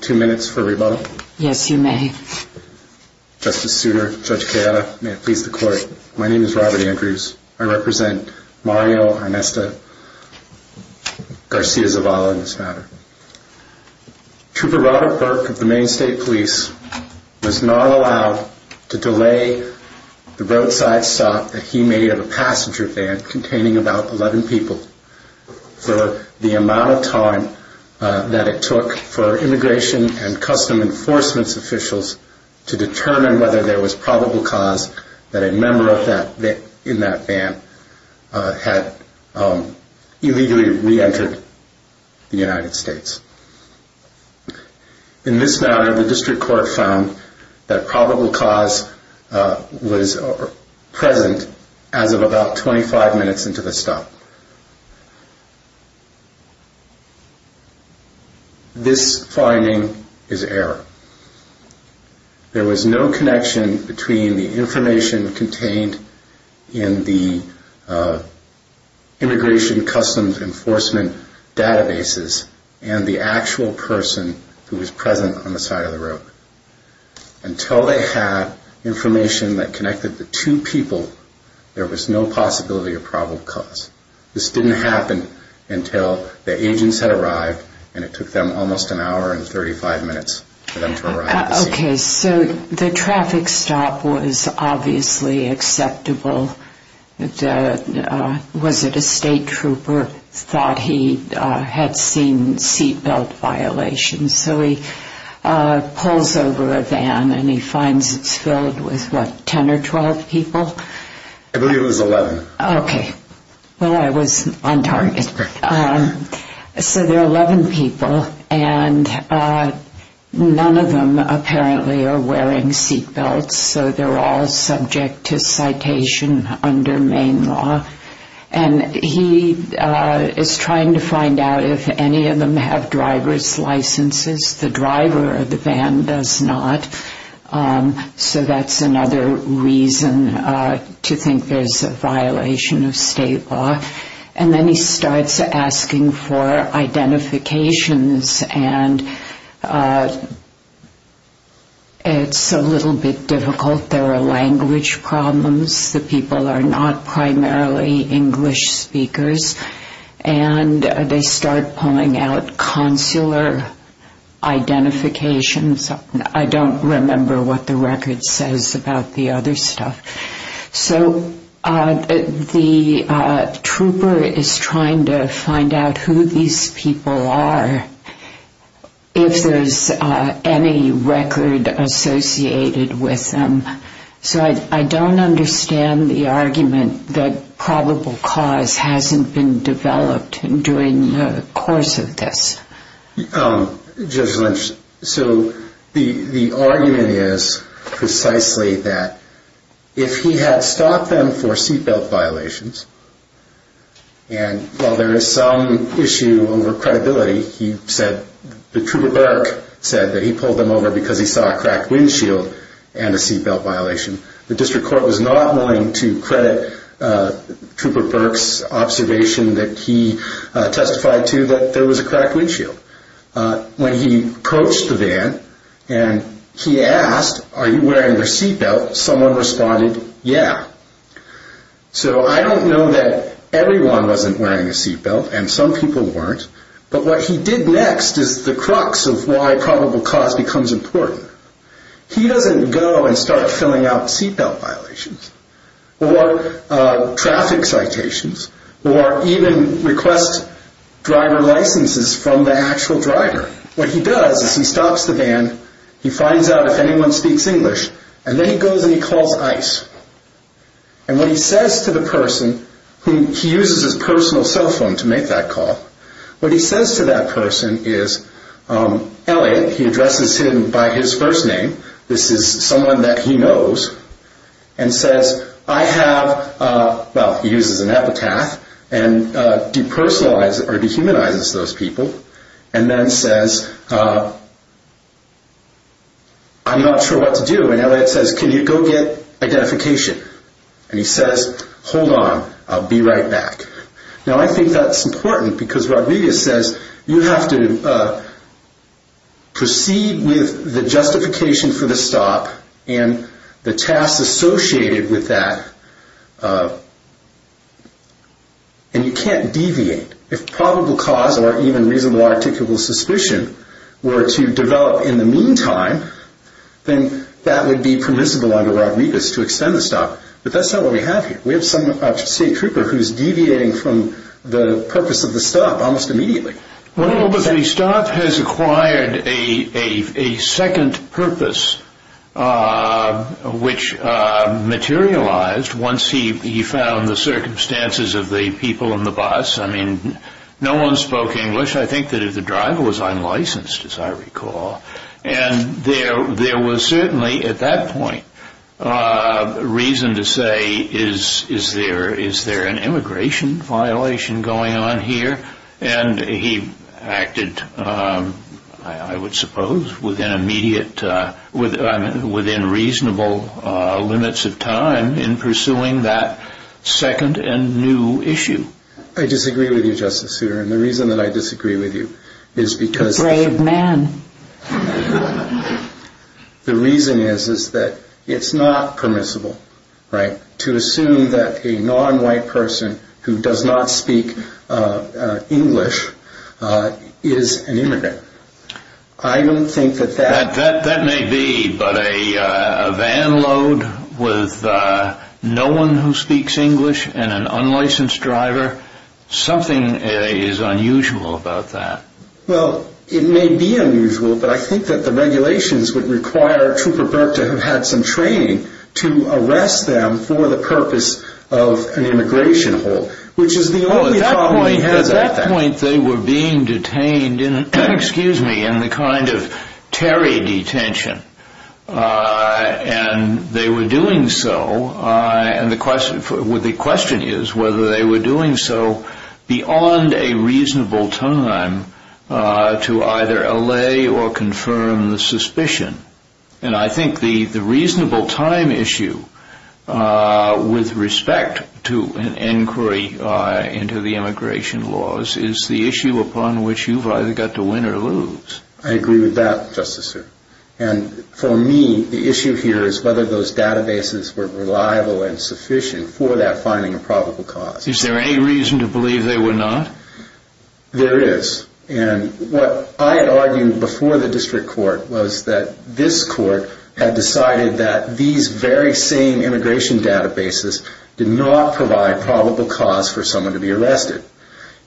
Trooper Robert Burke of the Maine State Police was not allowed to delay the roadside stop that he made of a passenger van containing about 11 people for the amount of time that it took for Immigration and Customs Enforcement officials to determine whether there was probable cause that a member in that van had illegally re-entered the United States. In this matter, the District Court found that probable cause was present as of about 25 minutes into the stop. This finding is error. There was no connection between the information contained in the Immigration and Customs Enforcement databases and the actual person who was present on the side of the road. Until they had information that connected the two people, there was no possibility of probable cause. This didn't happen until the agents had arrived and it took them almost an hour and 35 minutes for them to arrive at the scene. Okay, so the traffic stop was obviously acceptable. Was it a State Trooper thought he had seen seat belt violations? So he pulls over a van and he finds it's filled with what, 10 or 12 people? I believe it was 11. Okay, well I was on target. So there are 11 people and none of them apparently are wearing seat belts. So they're all subject to citation under Maine law. And he is trying to find out if any of them have driver's licenses. The driver of the van does not. So that's another reason to think there's a violation of State law. And then he starts asking for identifications and it's a little bit difficult. There are language problems. The people are not primarily English speakers. And they start pulling out consular identifications. I don't remember what the record says about the other stuff. So the trooper is trying to find out who these people are, if there's any record associated with them. So I don't understand the argument that probable cause hasn't been developed during the course of this. Judge Lynch, so the argument is precisely that if he had stopped them for seat belt violations, and while there is some issue over credibility, he said, the trooper Burke said that he pulled them over because he saw a cracked windshield and a seat belt violation. The district court was not willing to credit trooper Burke's observation that he testified to that there was a cracked windshield. When he coached the van and he asked, are you wearing your seat belt? Someone responded, yeah. So I don't know that everyone wasn't wearing a seat belt and some people weren't. But what he did next is the crux of why probable cause becomes important. He doesn't go and start filling out seat belt violations or traffic citations or even request driver licenses from the actual driver. What he does is he stops the van, he finds out if anyone speaks English, and then he goes and he calls ICE. And what he says to the person, he uses his personal cell phone to make that call, what he says to that person is, Elliot, he addresses him by his first name, this is someone that he knows, and says, I have, well, he uses an epitaph, and depersonalizes or dehumanizes those people, and then says, I'm not sure what to do, and Elliot says, can you go get identification? And he says, hold on, I'll be right back. Now I think that's important because Rodriguez says you have to proceed with the justification for the stop and the tasks associated with that, and you can't deviate. If probable cause or even reasonable articulable suspicion were to develop in the meantime, then that would be permissible under Rodriguez to extend the stop, but that's not what we have here. We have a state trooper who's deviating from the purpose of the stop almost immediately. Well, but the stop has acquired a second purpose, which materialized once he found the circumstances of the people in the bus. I mean, no one spoke English. I think that if the driver was unlicensed, as I recall, and there was certainly at that point reason to say, is there an immigration violation going on here? And he acted, I would suppose, within reasonable limits of time in pursuing that second and new issue. I disagree with you, Justice Souter, and the reason that I disagree with you is because... A brave man. The reason is that it's not permissible, right, to assume that a nonwhite person who does not speak English is an immigrant. I don't think that that... That may be, but a van load with no one who speaks English and an unlicensed driver, something is unusual about that. Well, it may be unusual, but I think that the regulations would require Trooper Burke to have had some training to arrest them for the purpose of an immigration hold, which is the only problem he has at that point. At that point, they were being detained in the kind of Terry detention, and they were doing so, and the question is whether they were doing so beyond a reasonable time to either allay or confirm the suspicion. And I think the reasonable time issue with respect to an inquiry into the immigration laws is the issue upon which you've either got to win or lose. I agree with that, Justice Souter. And for me, the issue here is whether those databases were reliable and sufficient for that finding of probable cause. Is there any reason to believe there were not? There is. And what I argued before the district court was that this court had decided that these very same immigration databases did not provide probable cause for someone to be arrested.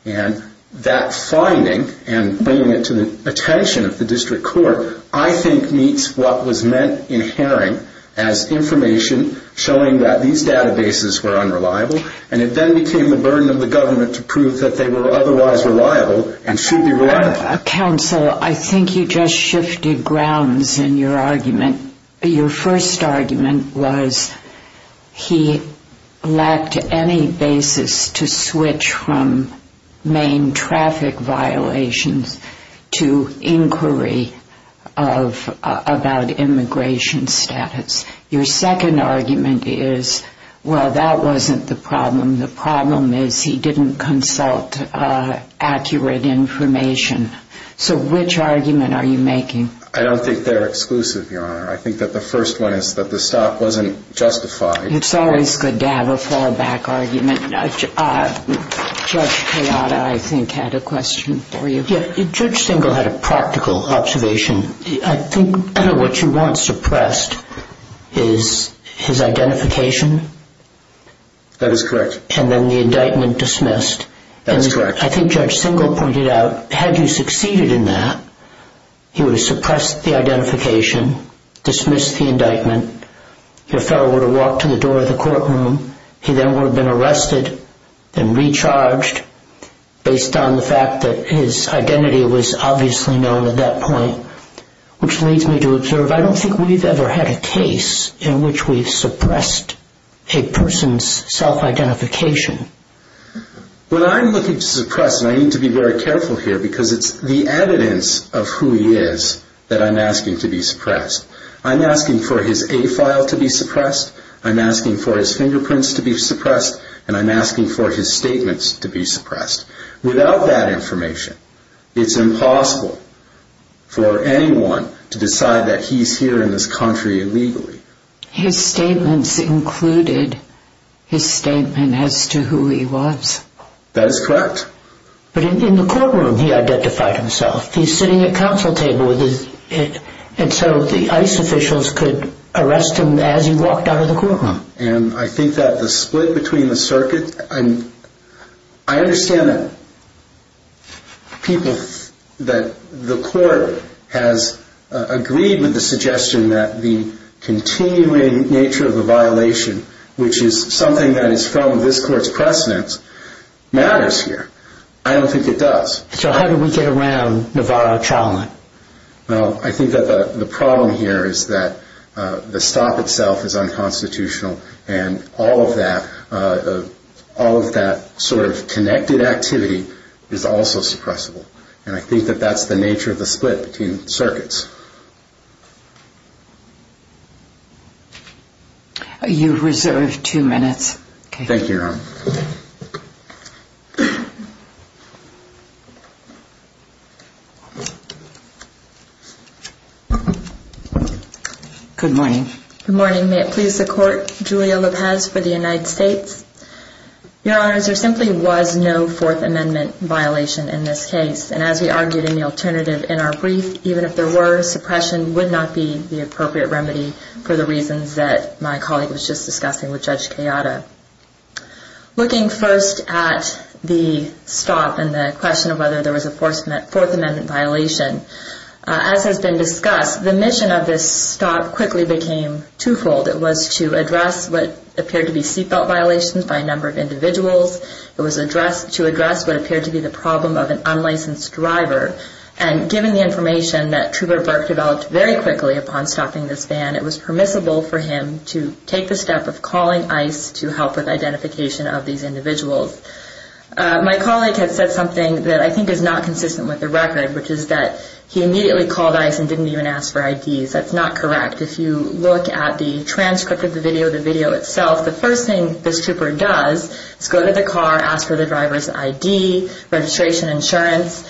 And that finding, and bringing it to the attention of the district court, I think meets what was meant in Herring as information showing that these databases were unreliable, and it then became the burden of the government to prove that they were otherwise reliable and should be reliable. Counsel, I think you just shifted grounds in your argument. Your first argument was he lacked any basis to switch from main traffic violations to inquiry about immigration status. Your second argument is, well, that wasn't the problem. The problem is he didn't consult accurate information. So which argument are you making? I don't think they're exclusive, Your Honor. I think that the first one is that the stop wasn't justified. It's always good to have a fallback argument. Judge Kayada, I think, had a question for you. Judge Singal had a practical observation. I think what you want suppressed is his identification. That is correct. And then the indictment dismissed. That is correct. I think Judge Singal pointed out, had you succeeded in that, he would have suppressed the identification, dismissed the indictment. Your fellow would have walked to the door of the courtroom. He then would have been arrested and recharged based on the fact that his identity was obviously known at that point. Which leads me to observe, I don't think we've ever had a case in which we've suppressed a person's self-identification. When I'm looking to suppress, and I need to be very careful here because it's the evidence of who he is that I'm asking to be suppressed. I'm asking for his A file to be suppressed. I'm asking for his fingerprints to be suppressed. And I'm asking for his statements to be suppressed. Without that information, it's impossible for anyone to decide that he's here in this country illegally. His statements included his statement as to who he was. That is correct. But in the courtroom he identified himself. He's sitting at counsel table, and so the ICE officials could arrest him as he walked out of the courtroom. And I think that the split between the circuit, I understand that the court has agreed with the suggestion that the continuing nature of the violation, which is something that is from this court's precedence, matters here. I don't think it does. So how do we get around Navarro trial? Well, I think that the problem here is that the stop itself is unconstitutional, and all of that sort of connected activity is also suppressible. And I think that that's the nature of the split between circuits. You reserve two minutes. Thank you, Your Honor. Good morning. Good morning. May it please the Court, Julia Lopez for the United States. Your Honors, there simply was no Fourth Amendment violation in this case, and as we argued in the alternative in our brief, even if there were, for the reasons that my colleague was just discussing with Judge Kayada. Looking first at the stop and the question of whether there was a Fourth Amendment violation, as has been discussed, the mission of this stop quickly became twofold. It was to address what appeared to be seat belt violations by a number of individuals. It was to address what appeared to be the problem of an unlicensed driver. And given the information that Trooper Burke developed very quickly upon stopping this van, it was permissible for him to take the step of calling ICE to help with identification of these individuals. My colleague had said something that I think is not consistent with the record, which is that he immediately called ICE and didn't even ask for IDs. That's not correct. If you look at the transcript of the video, the video itself, the first thing this trooper does is go to the car, ask for the driver's ID, registration, insurance.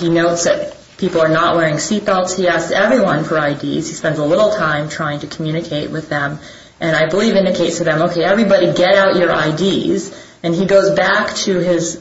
He notes that people are not wearing seat belts. He asks everyone for IDs. He spends a little time trying to communicate with them. And I believe indicates to them, okay, everybody get out your IDs. And he goes back to his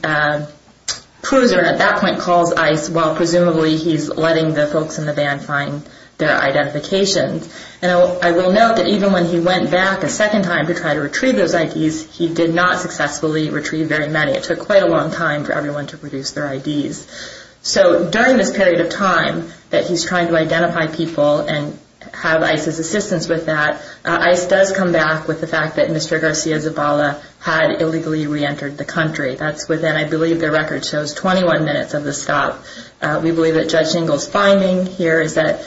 cruiser and at that point calls ICE, while presumably he's letting the folks in the van find their identification. And I will note that even when he went back a second time to try to retrieve those IDs, he did not successfully retrieve very many. It took quite a long time for everyone to produce their IDs. So during this period of time that he's trying to identify people and have ICE's assistance with that, ICE does come back with the fact that Mr. Garcia Zabala had illegally reentered the country. That's within, I believe, the record shows, 21 minutes of the stop. We believe that Judge Engel's finding here is that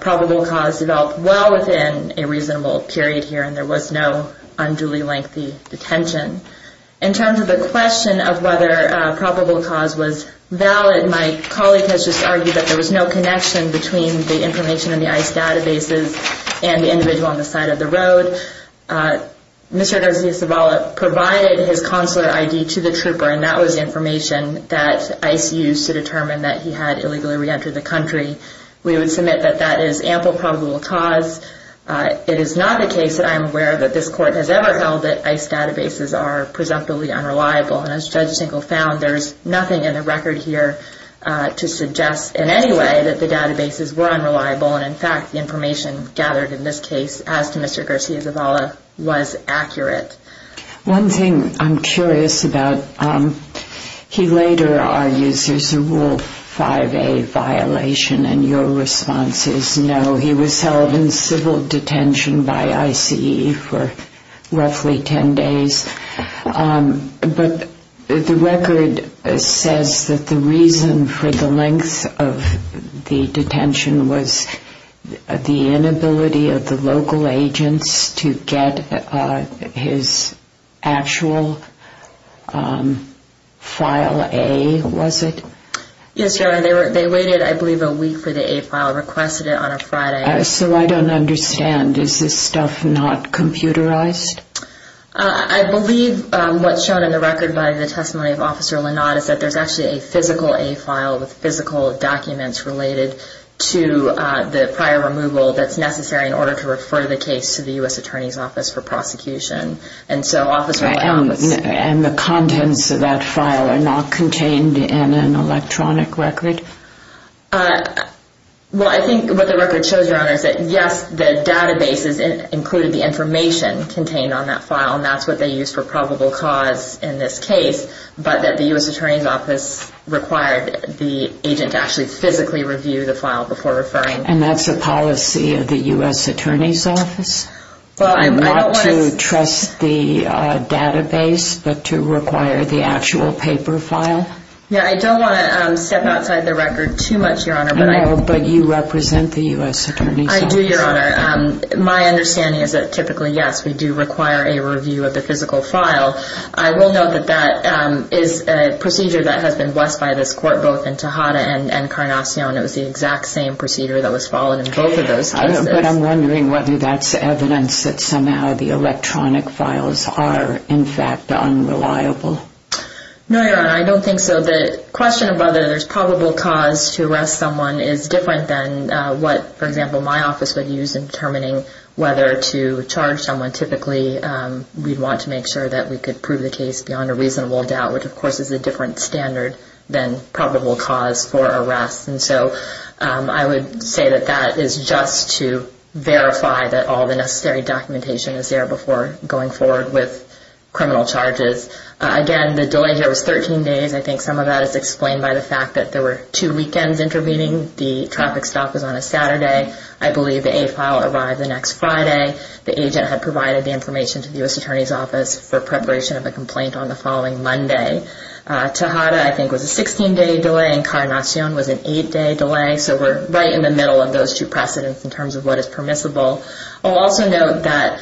probable cause developed well within a reasonable period here and there was no unduly lengthy detention. In terms of the question of whether probable cause was valid, my colleague has just argued that there was no connection between the information in the ICE databases and the individual on the side of the road. Mr. Garcia Zabala provided his consular ID to the trooper, and that was information that ICE used to determine that he had illegally reentered the country. We would submit that that is ample probable cause. It is not the case that I am aware that this court has ever held that ICE databases are presumptively unreliable. And as Judge Engel found, there is nothing in the record here to suggest in any way that the databases were unreliable. And in fact, the information gathered in this case, as to Mr. Garcia Zabala, was accurate. One thing I'm curious about, he later argues there's a Rule 5a violation, and your response is no. He was held in civil detention by ICE for roughly 10 days. But the record says that the reason for the length of the detention was the inability of the local agents to get his actual File A, was it? Yes, Your Honor. They waited, I believe, a week for the A file, requested it on a Friday. So I don't understand. Is this stuff not computerized? I believe what's shown in the record by the testimony of Officer Linott is that there's actually a physical A file with physical documents related to the prior removal that's necessary in order to refer the case to the U.S. Attorney's Office for prosecution. And the contents of that file are not contained in an electronic record? Well, I think what the record shows, Your Honor, is that yes, the databases included the information contained on that file, and that's what they used for probable cause in this case. But that the U.S. Attorney's Office required the agent to actually physically review the file before referring. And that's a policy of the U.S. Attorney's Office? Well, I don't want to... Not to trust the database, but to require the actual paper file? Yeah, I don't want to step outside the record too much, Your Honor, but I... No, but you represent the U.S. Attorney's Office. I do, Your Honor. My understanding is that typically, yes, we do require a review of the physical file. I will note that that is a procedure that has been blessed by this court, both in Tejada and Carnacion. It was the exact same procedure that was followed in both of those cases. But I'm wondering whether that's evidence that somehow the electronic files are, in fact, unreliable. No, Your Honor, I don't think so. The question of whether there's probable cause to arrest someone is different than what, for example, my office would use in determining whether to charge someone. Typically, we'd want to make sure that we could prove the case beyond a reasonable doubt, which, of course, is a different standard than probable cause for arrest. And so I would say that that is just to verify that all the necessary documentation is there before going forward with criminal charges. Again, the delay here was 13 days. I think some of that is explained by the fact that there were two weekends intervening. The traffic stop was on a Saturday. I believe the A file arrived the next Friday. The agent had provided the information to the U.S. Attorney's Office for preparation of a complaint on the following Monday. Tejada, I think, was a 16-day delay, and Carnacion was an 8-day delay. So we're right in the middle of those two precedents in terms of what is permissible. I'll also note that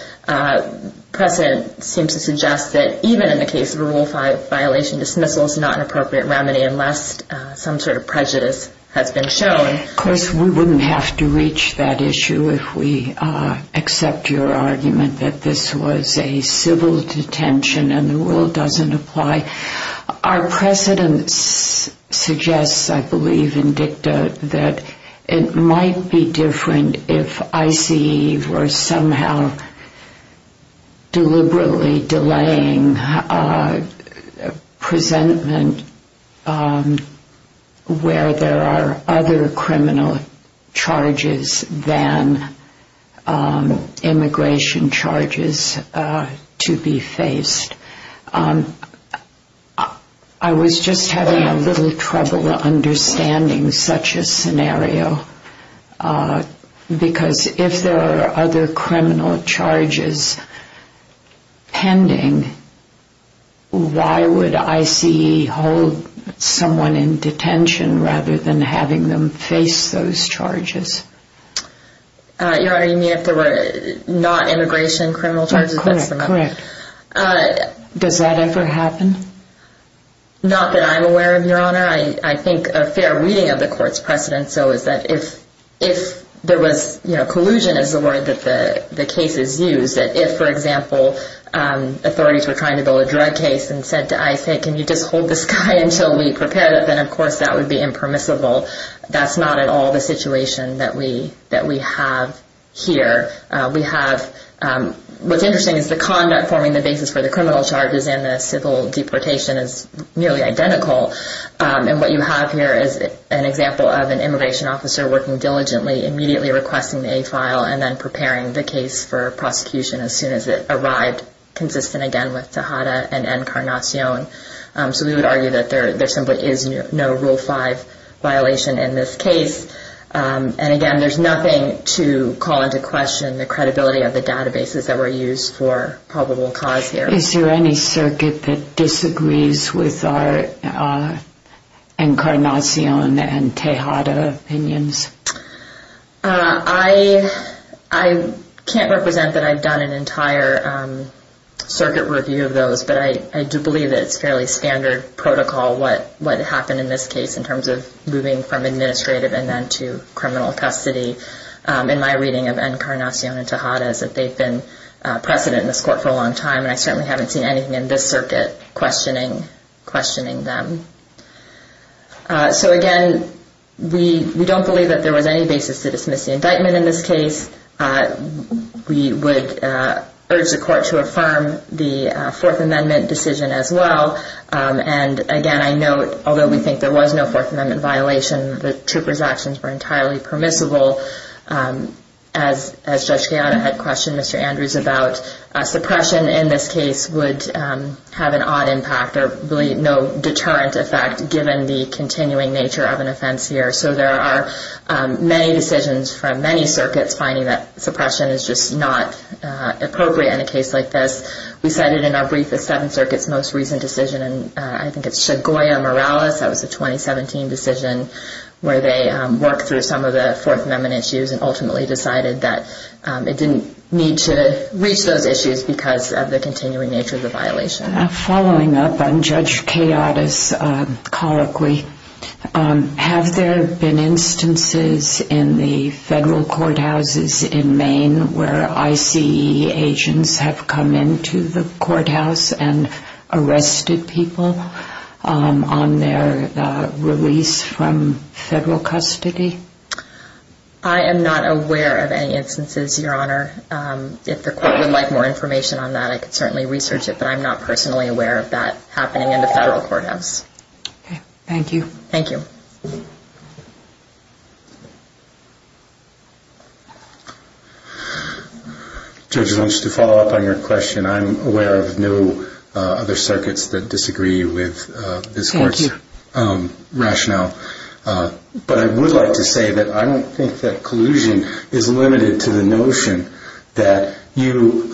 precedent seems to suggest that even in the case of a Rule 5 violation, dismissal is not an appropriate remedy unless some sort of prejudice has been shown. Of course, we wouldn't have to reach that issue if we accept your argument that this was a civil detention and the rule doesn't apply. Our precedents suggest, I believe in DICTA, that it might be different if ICE were somehow deliberately delaying the presentment where there are other criminal charges than immigration charges to be faced. I was just having a little trouble understanding such a scenario because if there are other criminal charges pending, why would ICE hold someone in detention rather than having them face those charges? Your Honor, you mean if there were not immigration criminal charges? Correct. Does that ever happen? Not that I'm aware of, Your Honor. I think a fair reading of the court's precedent so is that if there was collusion is the word that the case is used, that if, for example, authorities were trying to build a drug case and said to ICE, hey, can you just hold this guy until we prepare it, then of course that would be impermissible. That's not at all the situation that we have here. What's interesting is the conduct forming the basis for the criminal charges and the civil deportation is nearly identical. What you have here is an example of an immigration officer working diligently, immediately requesting the A file and then preparing the case for prosecution as soon as it arrived, consistent again with Tejada and Encarnacion. So we would argue that there simply is no Rule 5 violation in this case. And again, there's nothing to call into question the credibility of the databases that were used for probable cause here. Is there any circuit that disagrees with our Encarnacion and Tejada opinions? I can't represent that I've done an entire circuit review of those, but I do believe that it's fairly standard protocol what happened in this case in terms of moving from administrative and then to criminal custody in my reading of Encarnacion and Tejada as if they've been precedent in this court for a long time. And I certainly haven't seen anything in this circuit questioning them. So again, we don't believe that there was any basis to dismiss the indictment in this case. We would urge the court to affirm the Fourth Amendment decision as well. And again, I note, although we think there was no Fourth Amendment violation, the trooper's actions were entirely permissible. As Judge Tejada had questioned Mr. Andrews about suppression in this case would have an odd impact or really no deterrent effect given the continuing nature of an offense here. So there are many decisions from many circuits finding that suppression is just not appropriate in a case like this. We cited in our brief the Seventh Circuit's most recent decision, and I think it's Segoia-Morales. That was a 2017 decision where they worked through some of the Fourth Amendment issues and ultimately decided that it didn't need to reach those issues because of the continuing nature of the violation. Following up on Judge Tejada's colloquy, have there been instances in the federal courthouses in Maine where ICE agents have come into the courthouse and arrested people on their release from federal custody? I am not aware of any instances, Your Honor. If the court would like more information on that, I could certainly research it, but I'm not personally aware of that happening in the federal courthouse. Thank you. Thank you. Judge, just to follow up on your question, I'm aware of no other circuits that disagree with this court's rationale. But I would like to say that I don't think that collusion is limited to the notion that you,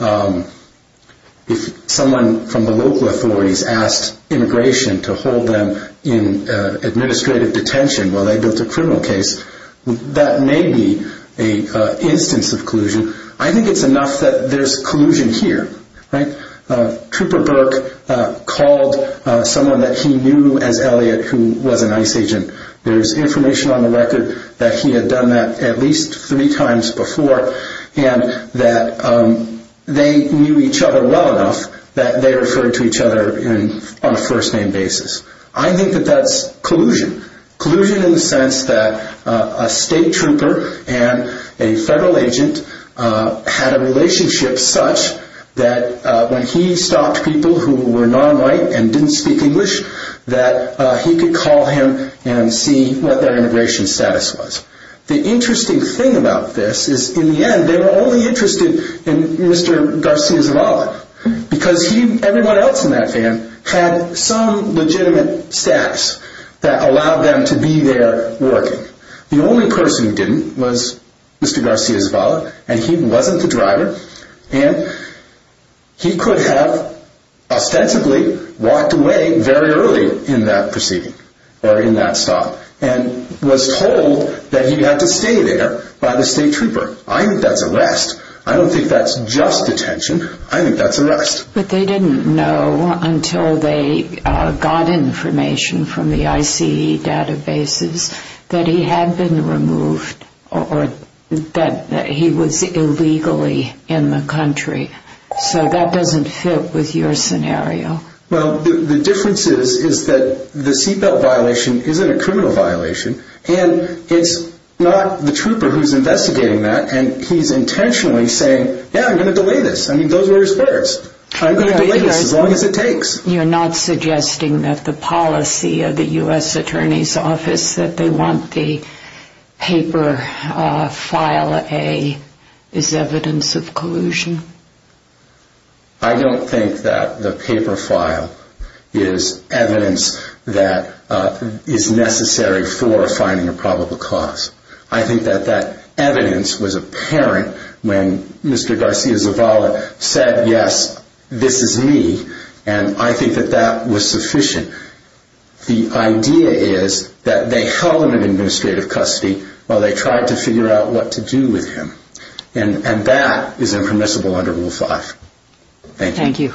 if someone from the local authorities asked immigration to hold them in administrative detention while they built a criminal case, that may be an instance of collusion. I think it's enough that there's collusion here. Trooper Burke called someone that he knew as Elliott who was an ICE agent. There's information on the record that he had done that at least three times before and that they knew each other well enough that they referred to each other on a first-name basis. I think that that's collusion. Collusion in the sense that a state trooper and a federal agent had a relationship such that when he stopped people who were non-white and didn't speak English, that he could call him and see what their immigration status was. The interesting thing about this is in the end they were only interested in Mr. Garcia-Zavala because everyone else in that van had some legitimate status that allowed them to be there working. The only person who didn't was Mr. Garcia-Zavala and he wasn't the driver. And he could have ostensibly walked away very early in that proceeding or in that stop and was told that he had to stay there by the state trooper. I think that's arrest. I don't think that's just detention. I think that's arrest. But they didn't know until they got information from the ICE databases that he had been removed or that he was illegally in the country. So that doesn't fit with your scenario. Well, the difference is that the seatbelt violation isn't a criminal violation and it's not the trooper who's investigating that and he's intentionally saying, yeah, I'm going to delay this. I mean, those were his words. I'm going to delay this as long as it takes. You're not suggesting that the policy of the U.S. Attorney's Office that they want the paper file A is evidence of collusion? I don't think that the paper file is evidence that is necessary for finding a probable cause. I think that that evidence was apparent when Mr. Garcia-Zavala said, yes, this is me, and I think that that was sufficient. The idea is that they held him in administrative custody while they tried to figure out what to do with him. And that is impermissible under Rule 5. Thank you.